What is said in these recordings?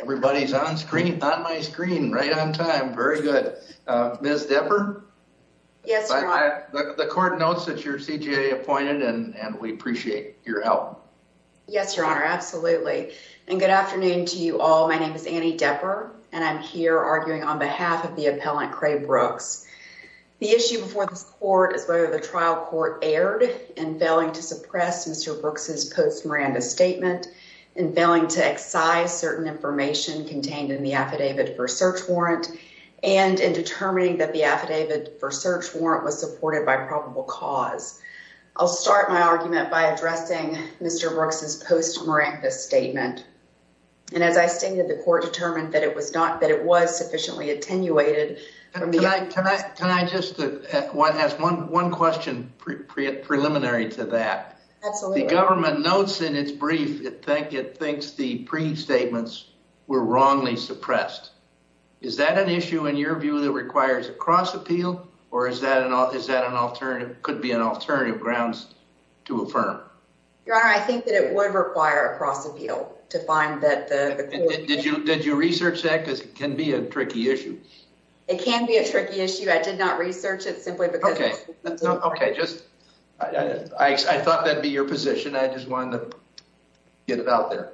Everybody's on screen, on my screen, right on time. Very good. Ms. Depper? Yes, Your Honor. The court notes that you're CJA appointed and we appreciate your help. Yes, Your Honor. Absolutely. And good afternoon to you all. My name is Annie Depper and I'm here arguing on behalf of the appellant Kra Brooks. The issue before this court is whether the trial court aired and failing to suppress Mr Brooks's post Miranda statement and failing to excise certain information contained in the affidavit for search warrant and in determining that the affidavit for search warrant was supported by probable cause. I'll start my argument by addressing Mr Brooks's post Miranda statement. And as I stated, the court determined that it was not that it was sufficiently attenuated. Can I just ask one question preliminary to that? Absolutely. The government notes in its brief it think it thinks the pre statements were wrongly suppressed. Is that an issue in your view that requires a cross appeal? Or is that an is that an alternative could be an alternative grounds to affirm? Your Honor, I think that it would require a cross appeal to find that. Did you did you research that? Because it can be a tricky issue. It can be a tricky issue. I did not research it simply because. Okay, just I thought that'd be your position. I just wanted to get it out there.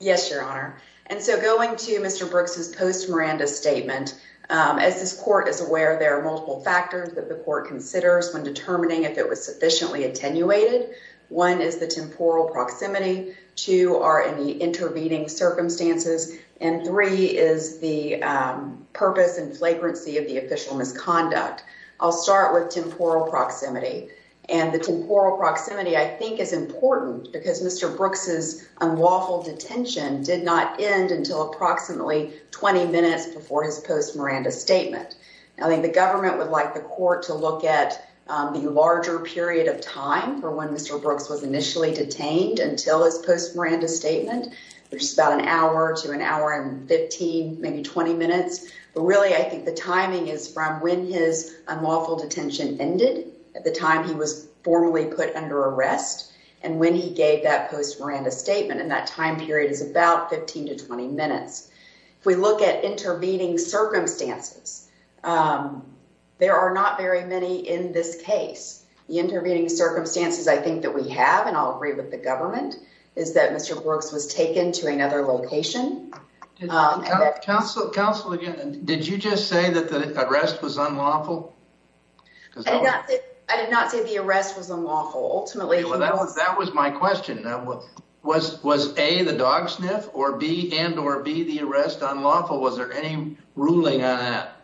Yes, Your Honor. And so going to Mr Brooks's post Miranda statement, as this court is aware, there are multiple factors that the court considers when determining if it was sufficiently attenuated. 1 is the temporal proximity to are in the intervening circumstances and 3 is the purpose and flagrancy of the official misconduct. I'll start with temporal proximity and the temporal proximity, I think, is important because Mr Brooks's unlawful detention did not end until approximately 20 minutes before his post Miranda statement. I think the government would like the court to look at the larger period of time for when Mr Brooks was initially detained until his post Miranda statement. There's about an hour to an hour and 15, maybe 20 minutes. But really, I think the timing is from when his unlawful detention ended at the time. He was formally put under arrest and when he gave that post Miranda statement and that time period is about 15 to 20 minutes. If we look at intervening circumstances, there are not very many in this case, the intervening circumstances. I think that we have and I'll agree with the government is that Mr Brooks was taken to another location. Did you just say that the arrest was unlawful? Was there any ruling on that?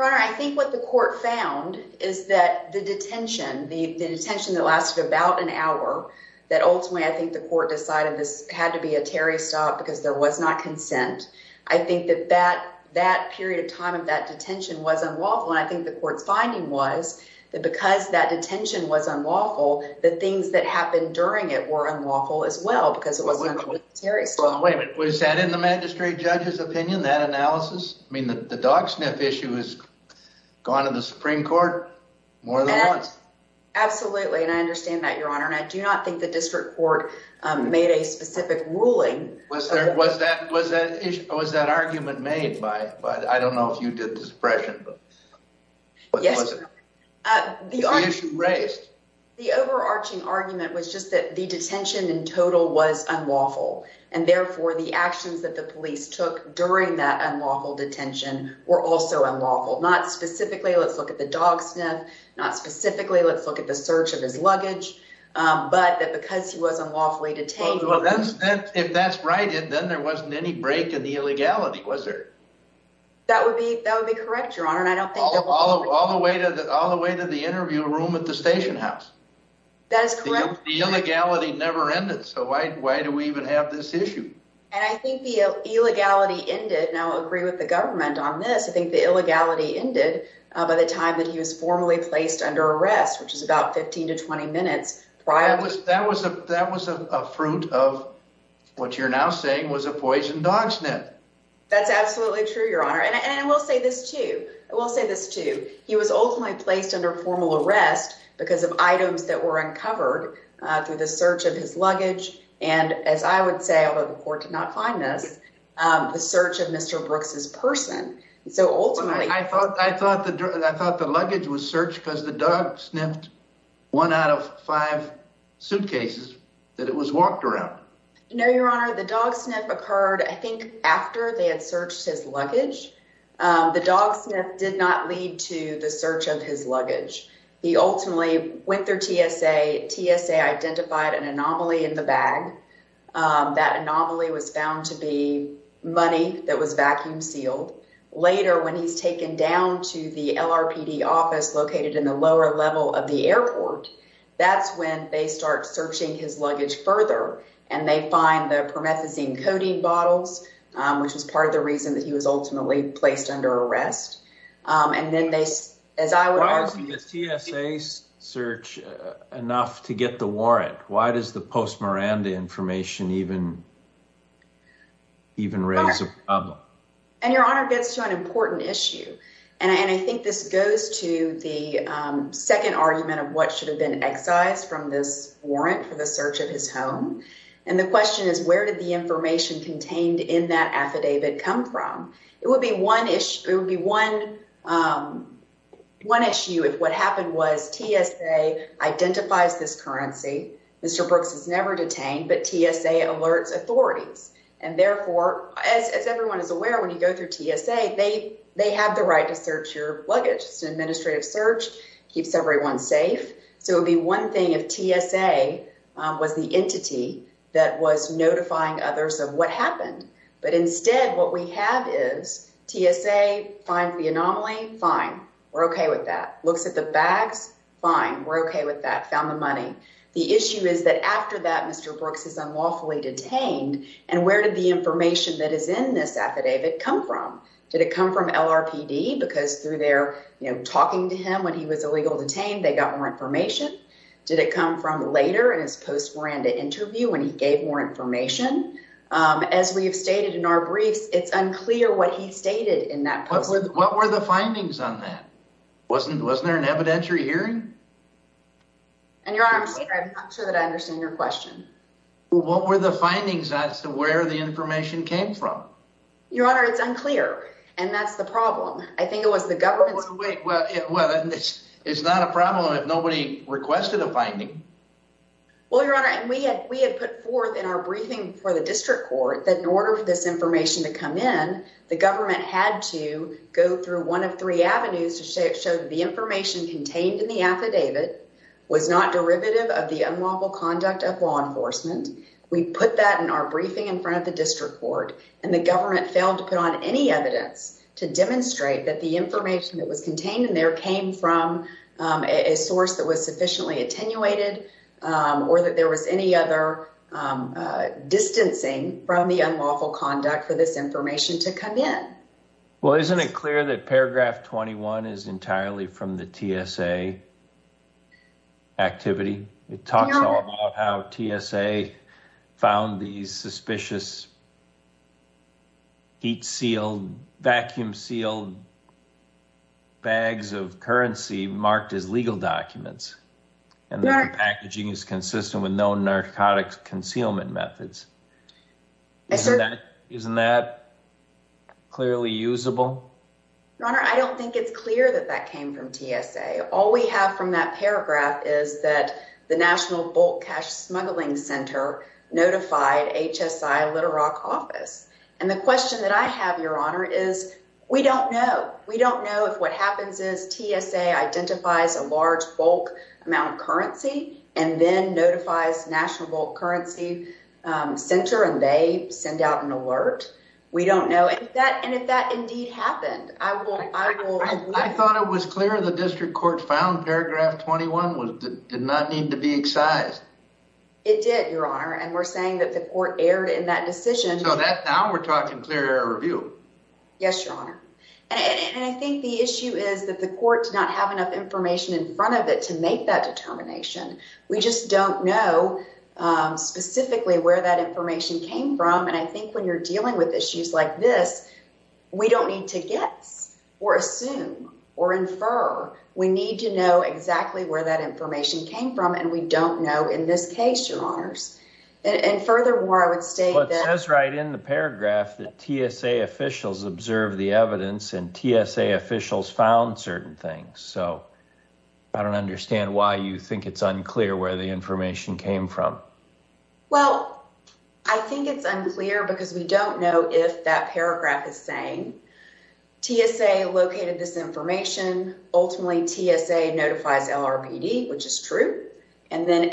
I think what the court found is that the detention, the detention that lasted about an hour that ultimately, I think the court decided this had to be a Terry stop because there was not consent. I think that that that period of time of that detention was unlawful. And I think the court's finding was that because that detention was unlawful, the things that happened during it were unlawful as well because it was very slow. Was that in the magistrate judge's opinion that analysis? I mean, the dog sniff issue is gone to the Supreme Court more than once. Absolutely, and I understand that your honor and I do not think the district court made a specific ruling. Was there was that was that was that argument made by but I don't know if you did the suppression. The overarching argument was just that the detention in total was unlawful and therefore the actions that the police took during that unlawful detention were also unlawful. Not specifically. Let's look at the dog sniff. Not specifically. Let's look at the search of his luggage. But because he was unlawfully detained, if that's right, then there wasn't any break in the illegality. Was there? That would be that would be correct. Your honor. And I don't think all of all the way to all the way to the interview room at the station house. That is correct. The illegality never ended. So why do we even have this issue? And I think the illegality ended now agree with the government on this. I think the illegality ended by the time that he was formally placed under arrest, which is about 15 to 20 minutes prior. That was that was a that was a fruit of what you're now saying was a poison dog sniff. That's absolutely true. Your honor. And I will say this too. I will say this too. He was ultimately placed under formal arrest because of items that were uncovered through the search of his luggage. And as I would say, although the court did not find this, the search of Mr. Brooks's person. So, ultimately, I thought I thought that I thought the luggage was searched because the dog sniffed one out of five suitcases that it was walked around. No, your honor, the dog sniff occurred, I think, after they had searched his luggage, the dog sniff did not lead to the search of his luggage. He ultimately went through TSA, TSA, identified an anomaly in the bag that anomaly was found to be money. That was vacuum sealed later when he's taken down to the office located in the lower level of the airport. That's when they start searching his luggage further, and they find the promethazine coating bottles, which was part of the reason that he was ultimately placed under arrest. And then they, as I would say, search enough to get the warrant. Why does the post Miranda information even even raise a problem and your honor gets to an important issue? And I think this goes to the second argument of what should have been excised from this warrant for the search of his home. And the question is, where did the information contained in that affidavit come from? It would be one issue. It would be one one issue. If what happened was TSA identifies this currency. Mr. Brooks is never detained, but TSA alerts authorities and therefore, as everyone is aware, when you go through TSA, they, they have the right to search. Your luggage administrative search keeps everyone safe. So it'd be one thing if TSA was the entity that was notifying others of what happened. But instead, what we have is TSA find the anomaly. Fine. We're okay with that. Looks at the bags. Fine. We're okay with that. Found the money. The issue is that after that, Mr. Brooks is unlawfully detained and where did the information that is in this affidavit come from? Did it come from L. R. P. D. because through there, you know, talking to him when he was illegal detained, they got more information. Did it come from later? And his post Miranda interview when he gave more information as we have stated in our briefs, it's unclear what he stated in that. What were the findings on that? Wasn't, wasn't there an evidentiary hearing and your honor? I'm not sure that I understand your question. What were the findings as to where the information came from? Your honor? It's unclear. And that's the problem. I think it was the government. Well, it's not a problem. If nobody requested a finding, well, your honor, and we had, we had put forth in our briefing for the district court that in order for this information to come in, the government had to go through one of three avenues to say, well, isn't it clear that paragraph 21 is entitled to be used as evidence to prove that the information contained in the affidavit was not derivative of the unlawful conduct of law enforcement we put that in our briefing in front of the district court and the government failed to put on any evidence to demonstrate that the information that was contained in there came from a source that was sufficiently attenuated or that there was any other distancing from the unlawful conduct for this information to come in. Well, isn't it clear that paragraph 21 is entirely from the TSA activity? It talks about how TSA found these suspicious heat sealed, vacuum sealed bags of currency marked as legal documents and that the packaging is consistent with no narcotics concealment methods. I said, isn't that clearly usable? Your honor, I don't think it's clear that that came from TSA. All we have from that paragraph is that the national bulk cash smuggling center notified HSI little rock office. And the question that I have your honor is we don't know. We don't know if what happens is TSA identifies a large bulk amount of currency and then notifies national currency. Center and they send out an alert. We don't know that. And if that indeed happened, I will I will. I thought it was clear the district court found paragraph 21 was did not need to be excised it did your honor and we're saying that the court erred in that decision. So that now we're talking clear air review. Yes, your honor, and I think the issue is that the court did not have enough information in front of it to make that determination. We just don't know specifically where that information came from. And I think when you're dealing with issues like this, we don't need to get or assume or infer. We need to know exactly where that information came from. And we don't know in this case, your honors and furthermore, I would say that's right in the paragraph that TSA officials have been. Observe the evidence and TSA officials found certain things, so I don't understand why you think it's unclear where the information came from. Well, I think it's unclear because we don't know if that paragraph is saying TSA located this information. Ultimately, TSA notifies, which is true and then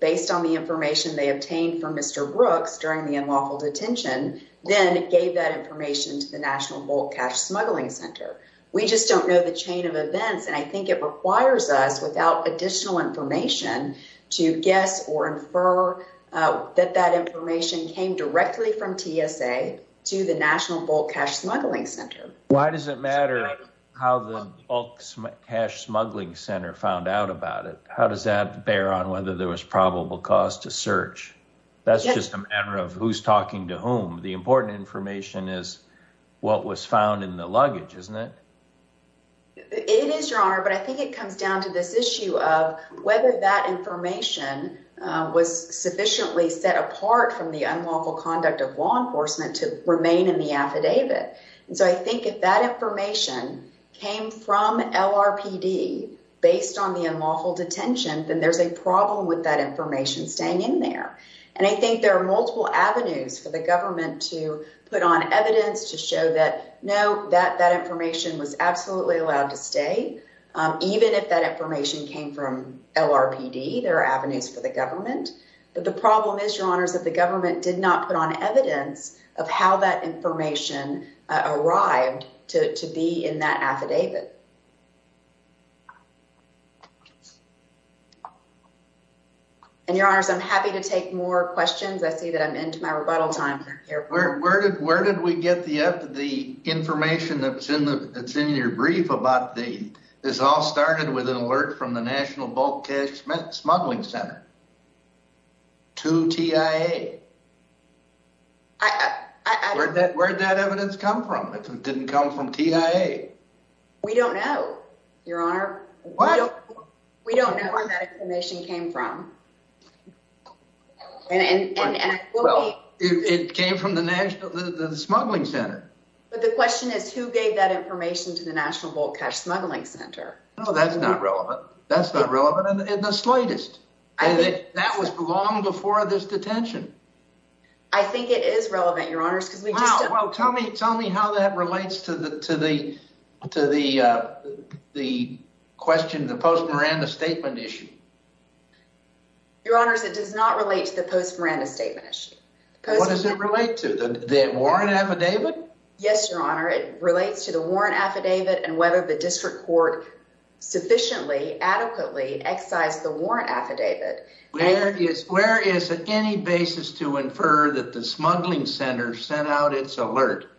based on the information they obtained from Mr Brooks during the unlawful detention. Then it gave that information to the National Bulk Cash Smuggling Center. We just don't know the chain of events, and I think it requires us without additional information to guess or infer that that information came directly from TSA to the National Bulk Cash Smuggling Center. Why does it matter how the Bulk Cash Smuggling Center found out about it? How does that bear on whether there was probable cause to search? That's just a matter of who's talking to whom. The important information is what was found in the luggage, isn't it? It is your honor, but I think it comes down to this issue of whether that information was sufficiently set apart from the unlawful conduct of law enforcement to remain in the affidavit. And so I think if that information came from LRPD based on the unlawful detention, then there's a problem with that information staying in there. And I think there are multiple avenues for the government to put on evidence to show that no, that that information was absolutely allowed to stay, even if that information came from LRPD, there are avenues for the government. But the problem is, your honors, that the government did not put on evidence of how that information arrived to be in that affidavit. And your honors, I'm happy to take more questions. I see that I'm into my rebuttal time here, where did where did we get the the information that's in the it's in your brief about the is all started with an alert from the National Bulk Cash Smuggling Center to TIA. I heard that word that evidence come from. It didn't come from TIA. We don't know, your honor, we don't know where that information came from and it came from the National Smuggling Center. But the question is, who gave that information to the National Bulk Cash Smuggling Center? No, that's not relevant. That's not relevant in the slightest. I think that was long before this detention. I think it is relevant, your honors, because we just tell me, tell me how that relates to the to the to the the question, the post Miranda statement issue. Your honors, it does not relate to the post Miranda statement. What does it relate to the warrant affidavit? Yes, your honor. It relates to the warrant affidavit and whether the district court sufficiently adequately excise the warrant affidavit. Where is where is any basis to infer that the Smuggling Center sent out its alert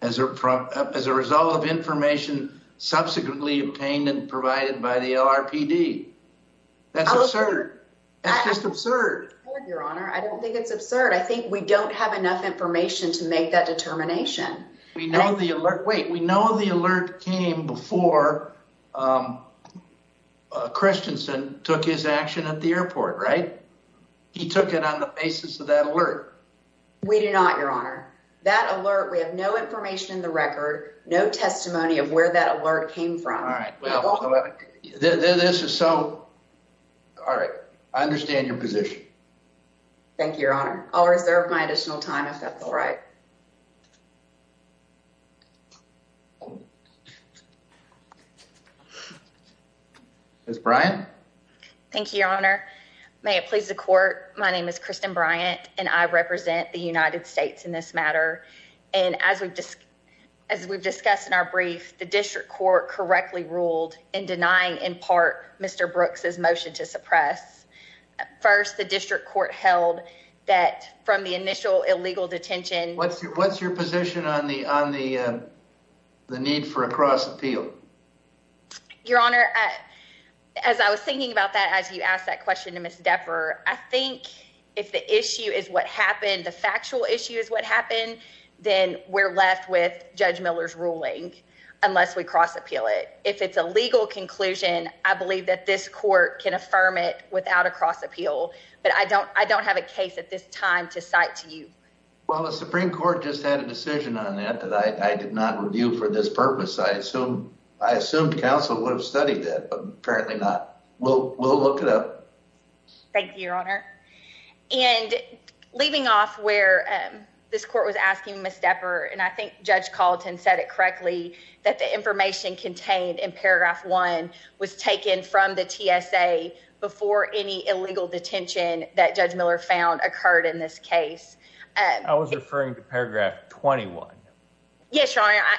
as a as a result of information subsequently obtained and provided by the LRPD? That's absurd. That's just absurd, your honor. I don't think it's absurd. I think we don't have enough information to make that determination. We know the alert. Wait, we know the alert came before Christensen took his action at the airport, right? He took it on the basis of that alert. We do not, your honor, that alert. We have no information in the record, no testimony of where that alert came from. All right. This is so. All right. I understand your position. Thank you, your honor. I'll reserve my additional time if that's right. Thank you, your honor, and I'm going to turn it back over to the district court to make a motion to suppress the warrant affidavit. Miss Bryant. Thank you, your honor. May it please the court. My name is Kristen Bryant, and I represent the United States in this matter, and as we've just as we've discussed in our brief, the district court correctly ruled in denying in part, Mr. Brooks's motion to suppress first, the district court held that from the initial illegal detention, what's your what's your position on the warrant affidavit? On the on the the need for a cross appeal, your honor, as I was thinking about that, as you asked that question to Miss Depper, I think if the issue is what happened, the factual issue is what happened, then we're left with Judge Miller's ruling unless we cross appeal it. If it's a legal conclusion, I believe that this court can affirm it without a cross appeal. But I don't I don't have a case at this time to cite to you. Well, the Supreme Court just had a decision on that that I did not review for this purpose. So I assumed counsel would have studied that. Apparently not. Well, we'll look it up. Thank you, your honor. Yes, your honor.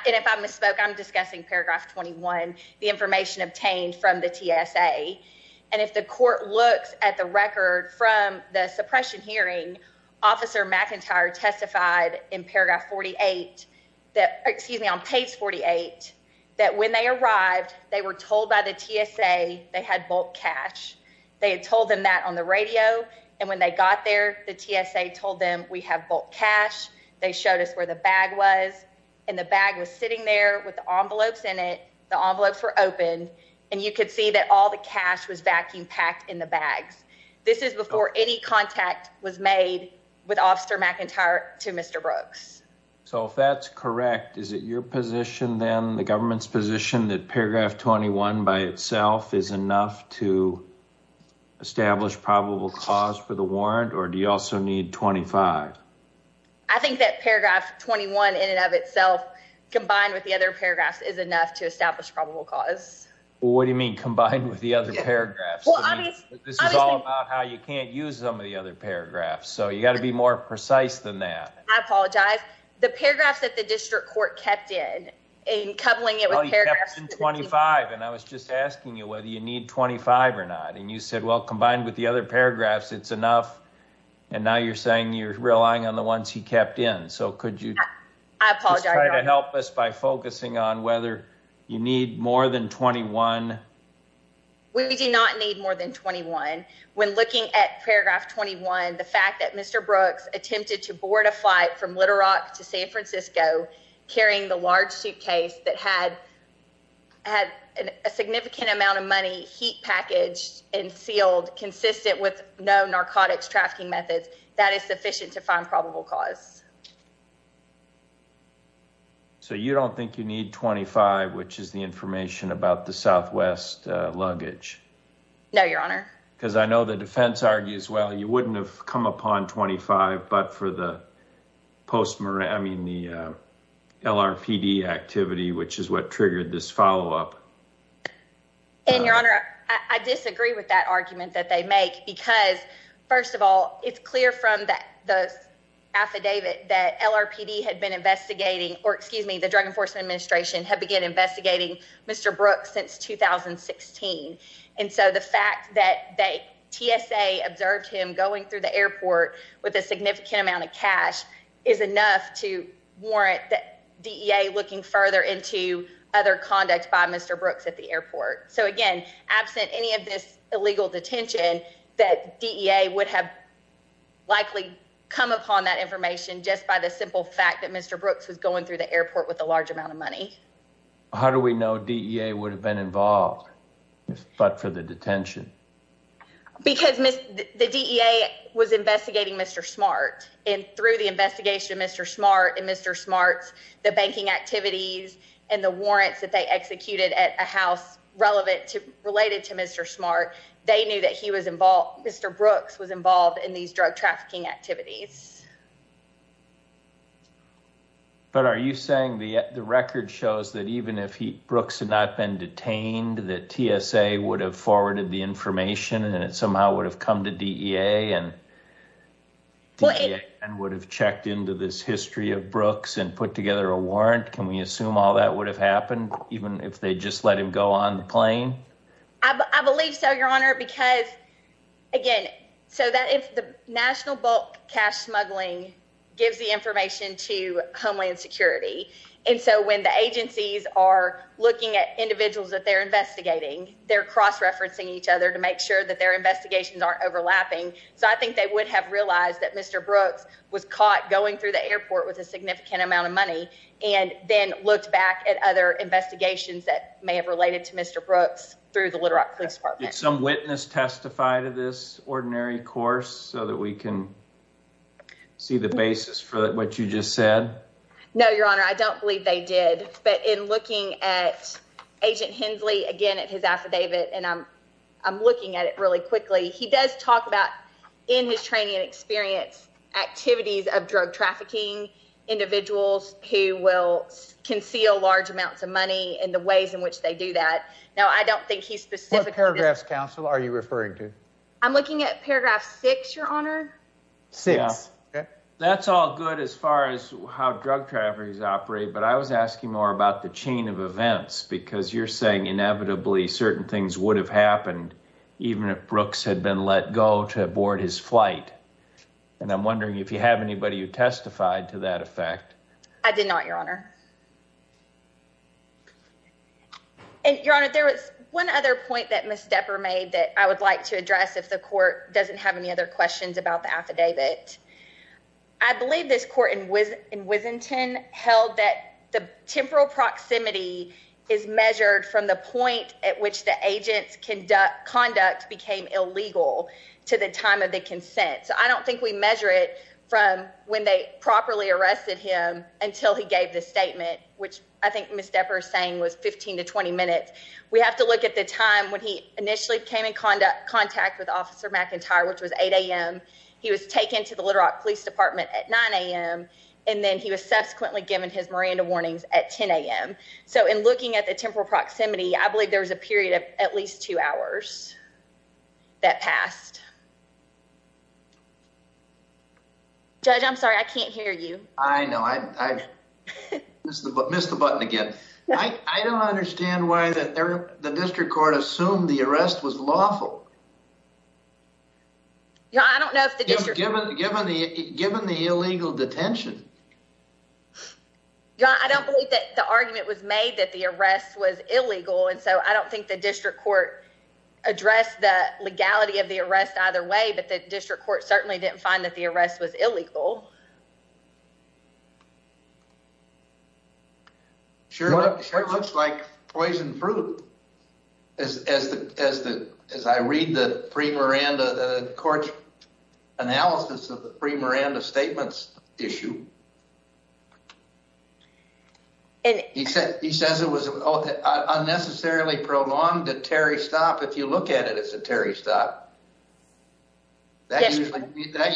And if I misspoke, I'm discussing paragraph 21, the information obtained from the TSA. And if the court looks at the record from the suppression hearing, Officer McIntyre testified in paragraph 48 that excuse me, on page 48, that when they arrived, they were told by the TSA they had bulk cash. Was vacuum packed in the bags. This is before any contact was made with Officer McIntyre to Mr. Brooks. So if that's correct, is it your position, then the government's position that paragraph 21 by itself is enough to establish probable cause for the warrant? Or do you also need 25? I think that paragraph 21 in and of itself, combined with the other paragraphs, is enough to establish probable cause. What do you mean combined with the other paragraphs? This is all about how you can't use some of the other paragraphs. So you got to be more precise than that. I apologize. The paragraphs that the district court kept in and coupling it with paragraph 25. And I was just asking you whether you need 25 or not. And you said, well, combined with the other paragraphs, it's enough. And now you're saying you're relying on the ones he kept in. I apologize. Help us by focusing on whether you need more than 21. We do not need more than 21. When looking at paragraph 21, the fact that Mr. Brooks attempted to board a flight from Little Rock to San Francisco. Carrying the large suitcase that had had a significant amount of money heat package and sealed consistent with no narcotics trafficking methods. That is sufficient to find probable cause. So you don't think you need 25, which is the information about the Southwest luggage? No, Your Honor. Because I know the defense argues, well, you wouldn't have come upon 25. But for the post, I mean, the LRPD activity, which is what triggered this follow up. And Your Honor, I disagree with that argument that they make, because, first of all, it's clear from the affidavit that LRPD had been investigating. Or excuse me, the Drug Enforcement Administration had began investigating Mr. Brooks since 2016. And so the fact that TSA observed him going through the airport with a significant amount of cash is enough to warrant that DEA looking further into other conduct by Mr. Brooks at the airport. So, again, absent any of this illegal detention, that DEA would have likely come upon that information just by the simple fact that Mr. Brooks was going through the airport with a large amount of money. How do we know DEA would have been involved, but for the detention? Because the DEA was investigating Mr. Smart, and through the investigation of Mr. Smart and Mr. Smart's banking activities and the warrants that they executed at a house related to Mr. Smart, they knew that Mr. Brooks was involved in these drug trafficking activities. But are you saying the record shows that even if Brooks had not been detained, that TSA would have forwarded the information and it somehow would have come to DEA and DEA would have checked into this history of Brooks and put together a warrant? Can we assume all that would have happened, even if they just let him go on the plane? I believe so, Your Honor, because, again, so that if the national bulk cash smuggling gives the information to Homeland Security, and so when the agencies are looking at individuals that they're investigating, they're cross-referencing each other to make sure that their investigations aren't overlapping. So I think they would have realized that Mr. Brooks was caught going through the airport with a significant amount of money and then looked back at other investigations that may have related to Mr. Brooks through the Little Rock Police Department. Did some witness testify to this ordinary course so that we can see the basis for what you just said? No, Your Honor, I don't believe they did. But in looking at Agent Hensley, again, at his affidavit, and I'm looking at it really quickly, he does talk about in his training and experience activities of drug trafficking individuals who will conceal large amounts of money and the ways in which they do that. What paragraphs, counsel, are you referring to? I'm looking at paragraph six, Your Honor. Six. That's all good as far as how drug traffickers operate, but I was asking more about the chain of events because you're saying inevitably certain things would have happened even if Brooks had been let go to board his flight. And I'm wondering if you have anybody who testified to that effect. I don't think we have anyone who testified to that effect. Thank you, Your Honor. The last thing I'm going to ask you about is the length of time that he was actually held in until he gave the statement which I think Miss Depp are saying was 15 to 20 minutes. We have to look at the time when he initially came in contact contact with officer McIntyre, which was 8 a.m. He was taken to the Little Rock Police Department at 9 a.m. And then he was subsequently given his Miranda warnings at 10 a.m. So in looking at the temporal proximity, I believe there's a period of at least two hours. That passed. Judge, I'm sorry, I can't hear you. I know I missed the missed the button again. I don't understand why that the district court assumed the arrest was lawful. Yeah, I don't know if the district given given the given the illegal detention. Yeah, I don't believe that the argument was made that the arrest was illegal. And so I don't think the district court address the legality of the arrest either way. But the district court certainly didn't find that the arrest was illegal. Sure, sure. Looks like poison fruit. As as the as the as I read the free Miranda court analysis of the free Miranda statements issue. And he said he says it was unnecessarily prolonged a Terry stop. If you look at it, it's a Terry stop. That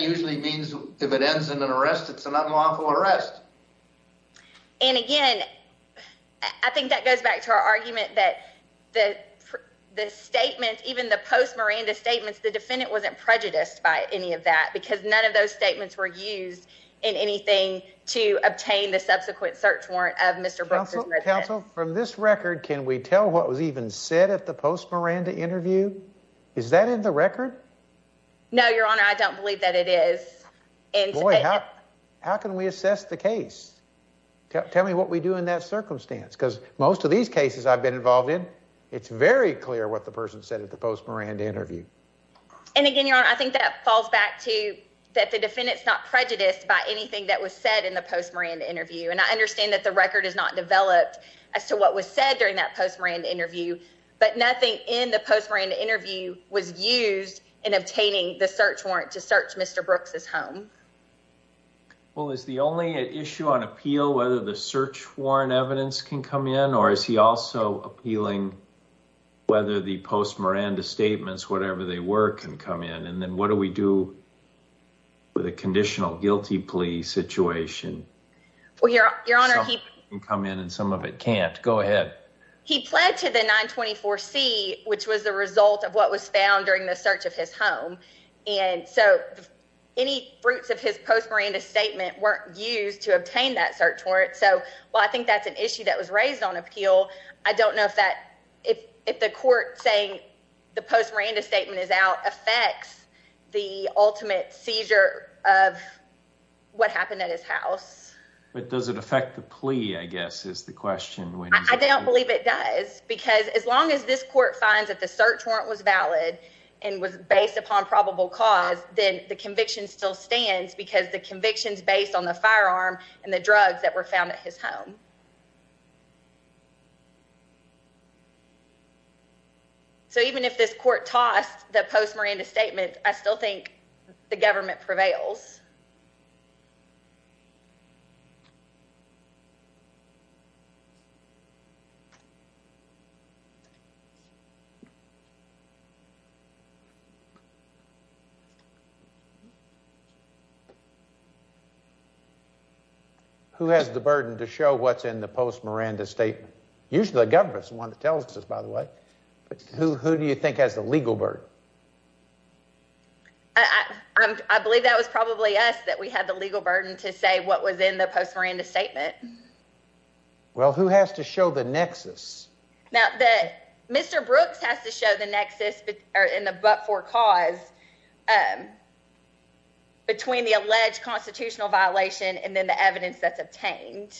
usually means if it ends in an arrest, it's an unlawful arrest. And again, I think that goes back to our argument that the the statement, even the post Miranda statements, the defendant wasn't prejudiced by any of that because none of those statements were used in anything to obtain the subsequent search warrant of Mr. From this record, can we tell what was even said at the post Miranda interview? Is that in the record? No, Your Honor, I don't believe that it is. And how can we assess the case? Tell me what we do in that circumstance, because most of these cases I've been involved in. It's very clear what the person said at the post Miranda interview. And again, Your Honor, I think that falls back to that. The defendant's not prejudiced by anything that was said in the post Miranda interview. And I understand that the record is not developed as to what was said during that post Miranda interview. But nothing in the post Miranda interview was used in obtaining the search warrant to search Mr. Brooks's home. Well, is the only issue on appeal whether the search warrant evidence can come in or is he also appealing whether the post Miranda statements, whatever they were, can come in? And then what do we do with a conditional guilty plea situation? Well, Your Honor, he can come in and some of it can't go ahead. He pled to the 924 C, which was the result of what was found during the search of his home. And so any fruits of his post Miranda statement weren't used to obtain that search warrant. So, well, I think that's an issue that was raised on appeal. I don't know if that if if the court saying the post Miranda statement is out affects the ultimate seizure of what happened at his house. But does it affect the plea? I guess is the question. I don't believe it does, because as long as this court finds that the search warrant was valid and was based upon probable cause, then the conviction still stands because the convictions based on the firearm and the drugs that were found at his home. So even if this court tossed the post Miranda statement, I still think the government prevails. Who has the burden to show what's in the post Miranda statement? Usually the government's one that tells us, by the way. But who do you think has the legal burden? I believe that was probably us that we had the legal burden to say what was in the post Miranda statement. Well, who has to show the nexus now that Mr. Brooks has to show the nexus in the book for cause between the alleged constitutional violation and then the evidence that's obtained.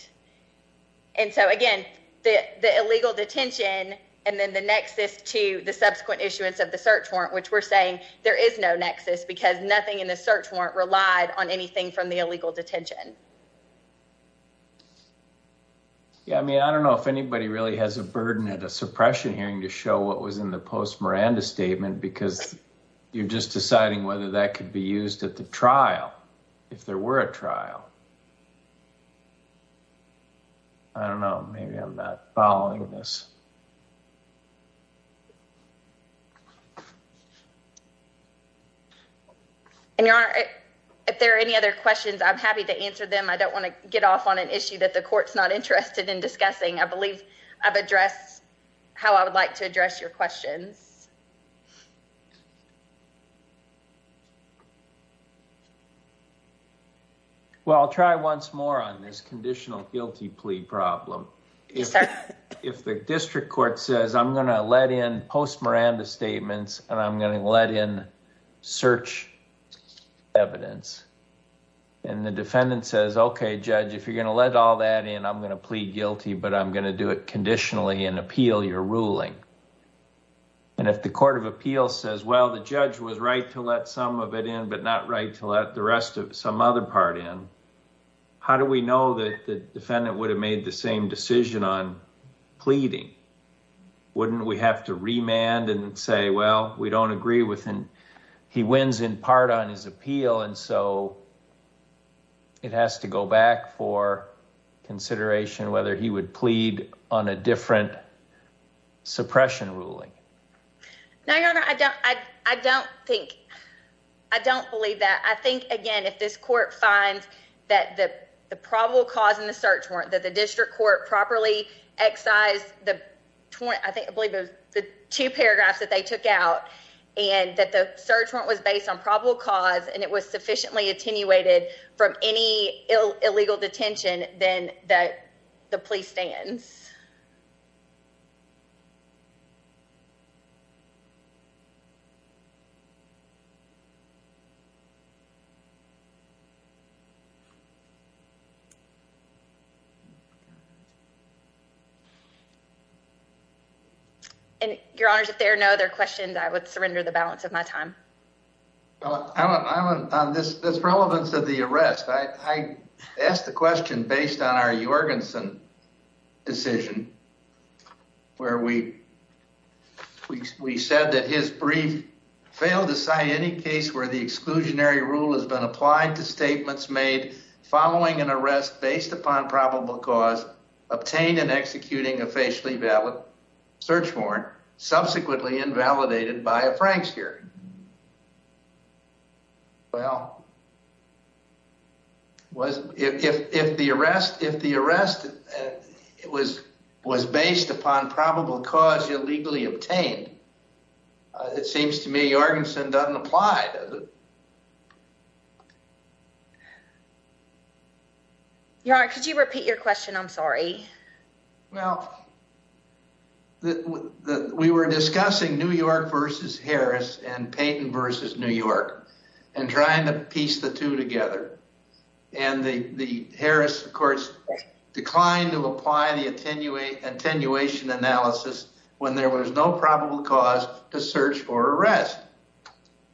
And so, again, the illegal detention and then the nexus to the subsequent issuance of the search warrant, which we're saying there is no nexus because nothing in the search warrant relied on anything from the illegal detention. Yeah, I mean, I don't know if anybody really has a burden at a suppression hearing to show what was in the post Miranda statement, because you're just deciding whether that could be used at the trial. If there were a trial. I don't know. Maybe I'm not following this. And if there are any other questions, I'm happy to answer them. I don't want to get off on an issue that the court's not interested in discussing. I believe I've addressed how I would like to address your questions. Well, I'll try once more on this conditional guilty plea problem. If the district court says, I'm going to let in post Miranda statements, and I'm going to let in search evidence. And the defendant says, okay, judge, if you're going to let all that in, I'm going to plead guilty, but I'm going to do it conditionally and appeal your ruling. And if the court of appeal says, well, the judge was right to let some of it in, but not right to let the rest of some other part in, how do we know that the defendant would have made the same decision on pleading? Wouldn't we have to remand and say, well, we don't agree with him. He wins in part on his appeal. And so it has to go back for consideration whether he would plead on a different suppression ruling. I don't think I don't believe that. I think, again, if this court finds that the probable cause in the search warrant that the district court properly excise the. I think I believe the two paragraphs that they took out and that the search warrant was based on probable cause, and it was sufficiently attenuated from any illegal detention, then that the police stands. Thank you. And your honors, if there are no other questions, I would surrender the balance of my time. On this relevance of the arrest, I asked the question based on our Jorgensen decision. Where we said that his brief failed to cite any case where the exclusionary rule has been applied to statements made following an arrest based upon probable cause obtained and executing a facially valid search warrant, subsequently invalidated by a Frank's hearing. Well. If the arrest if the arrest was was based upon probable cause illegally obtained. It seems to me Jorgensen doesn't apply. Could you repeat your question? I'm sorry. Well. We were discussing New York versus Harris and Peyton versus New York and trying to piece the two together. And the Harris, of course, declined to apply the attenuation analysis when there was no probable cause to search for arrest.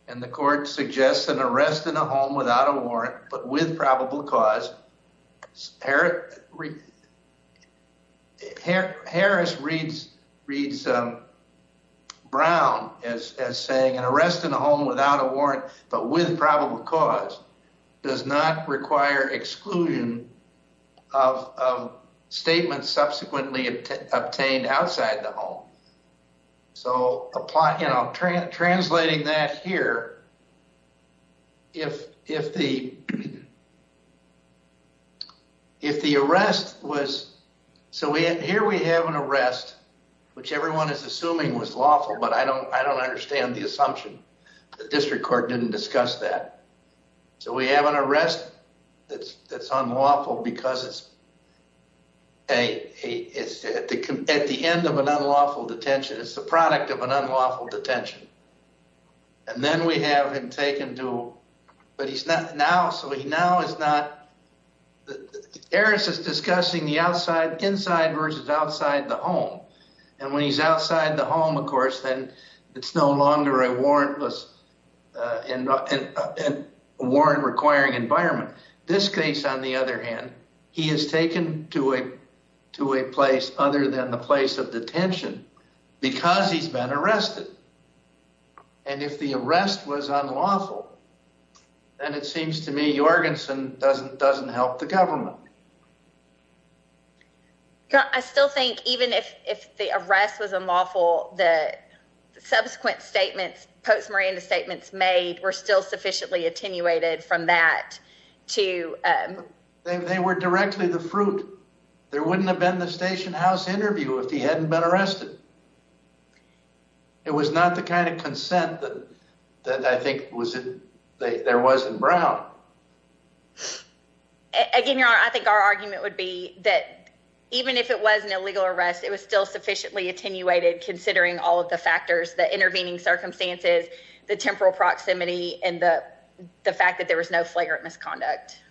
And the court suggests an arrest in a home without a warrant, but with probable cause. Harris reads Brown as saying an arrest in a home without a warrant, but with probable cause does not require exclusion of statements subsequently obtained outside the home. So, you know, translating that here. If if the. If the arrest was so here we have an arrest, which everyone is assuming was lawful, but I don't I don't understand the assumption. The district court didn't discuss that. So we have an arrest that's that's unlawful because it's a it's at the end of an unlawful detention. It's the product of an unlawful detention. And then we have him taken to. But he's not now. So he now is not. Harris is discussing the outside, inside versus outside the home. And when he's outside the home, of course, then it's no longer a warrantless and warrant requiring environment. This case, on the other hand, he is taken to a to a place other than the place of detention because he's been arrested. And if the arrest was unlawful. And it seems to me, Jorgensen doesn't doesn't help the government. I still think even if if the arrest was unlawful, the subsequent statements, postmortem statements made were still sufficiently attenuated from that to. They were directly the fruit. There wouldn't have been the station house interview if he hadn't been arrested. It was not the kind of consent that I think was there was in Brown. Again, I think our argument would be that even if it was an illegal arrest, it was still sufficiently attenuated, considering all of the factors that intervening circumstances, the temporal proximity and the fact that there was no flagrant misconduct.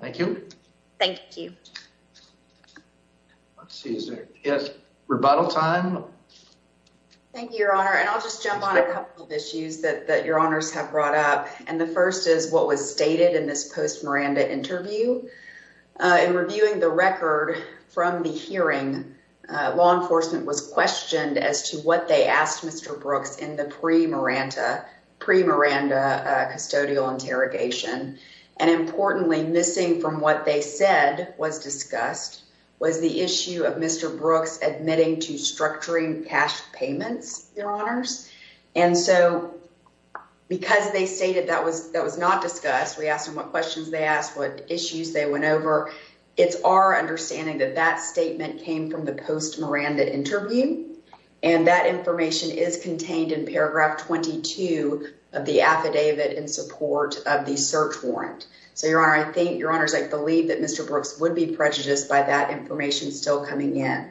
Thank you. Thank you. Let's see. Yes. Rebuttal time. Thank you, your honor. And I'll just jump on a couple of issues that your honors have brought up. And the first is what was stated in this post Miranda interview in reviewing the record from the hearing. Law enforcement was questioned as to what they asked Mr. Brooks in the pre Miranda pre Miranda custodial interrogation. And importantly, missing from what they said was discussed was the issue of Mr. Brooks admitting to structuring cash payments. And so, because they say that that was, that was not discussed. We asked him what questions they asked what issues they went over. It's our understanding that that statement came from the post Miranda interview, and that information is contained in paragraph 22 of the affidavit in support of the search warrant. So, your honor, I think your honors, I believe that Mr. Brooks would be prejudiced by that information still coming in.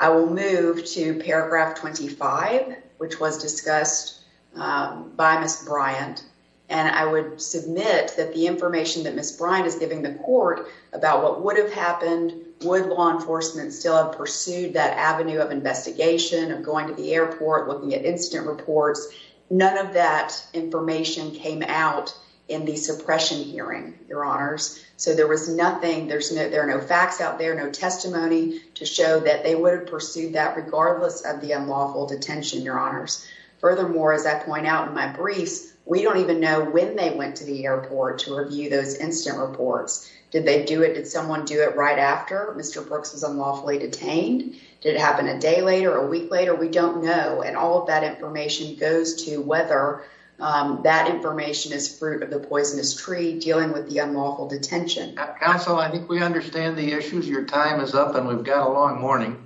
I will move to paragraph 25, which was discussed by Miss Bryant. And I would submit that the information that Miss Bryant is giving the court about what would have happened would law enforcement still have pursued that avenue of investigation of going to the airport looking at incident reports. None of that information came out in the suppression hearing your honors. So there was nothing there's no, there are no facts out there. No testimony to show that they would have pursued that regardless of the unlawful detention. Your honors. Furthermore, as I point out in my briefs, we don't even know when they went to the airport to review those instant reports. Did they do it? Did someone do it right after Mr. Brooks was unlawfully detained? Did it happen a day later a week later? We don't know. And all of that information goes to whether that information is fruit of the poisonous tree dealing with the unlawful detention. Counsel, I think we understand the issues. Your time is up and we've got a long morning.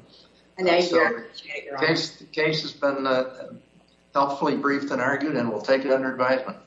And thank you. The case has been helpfully briefed and argued and we'll take it under advisement.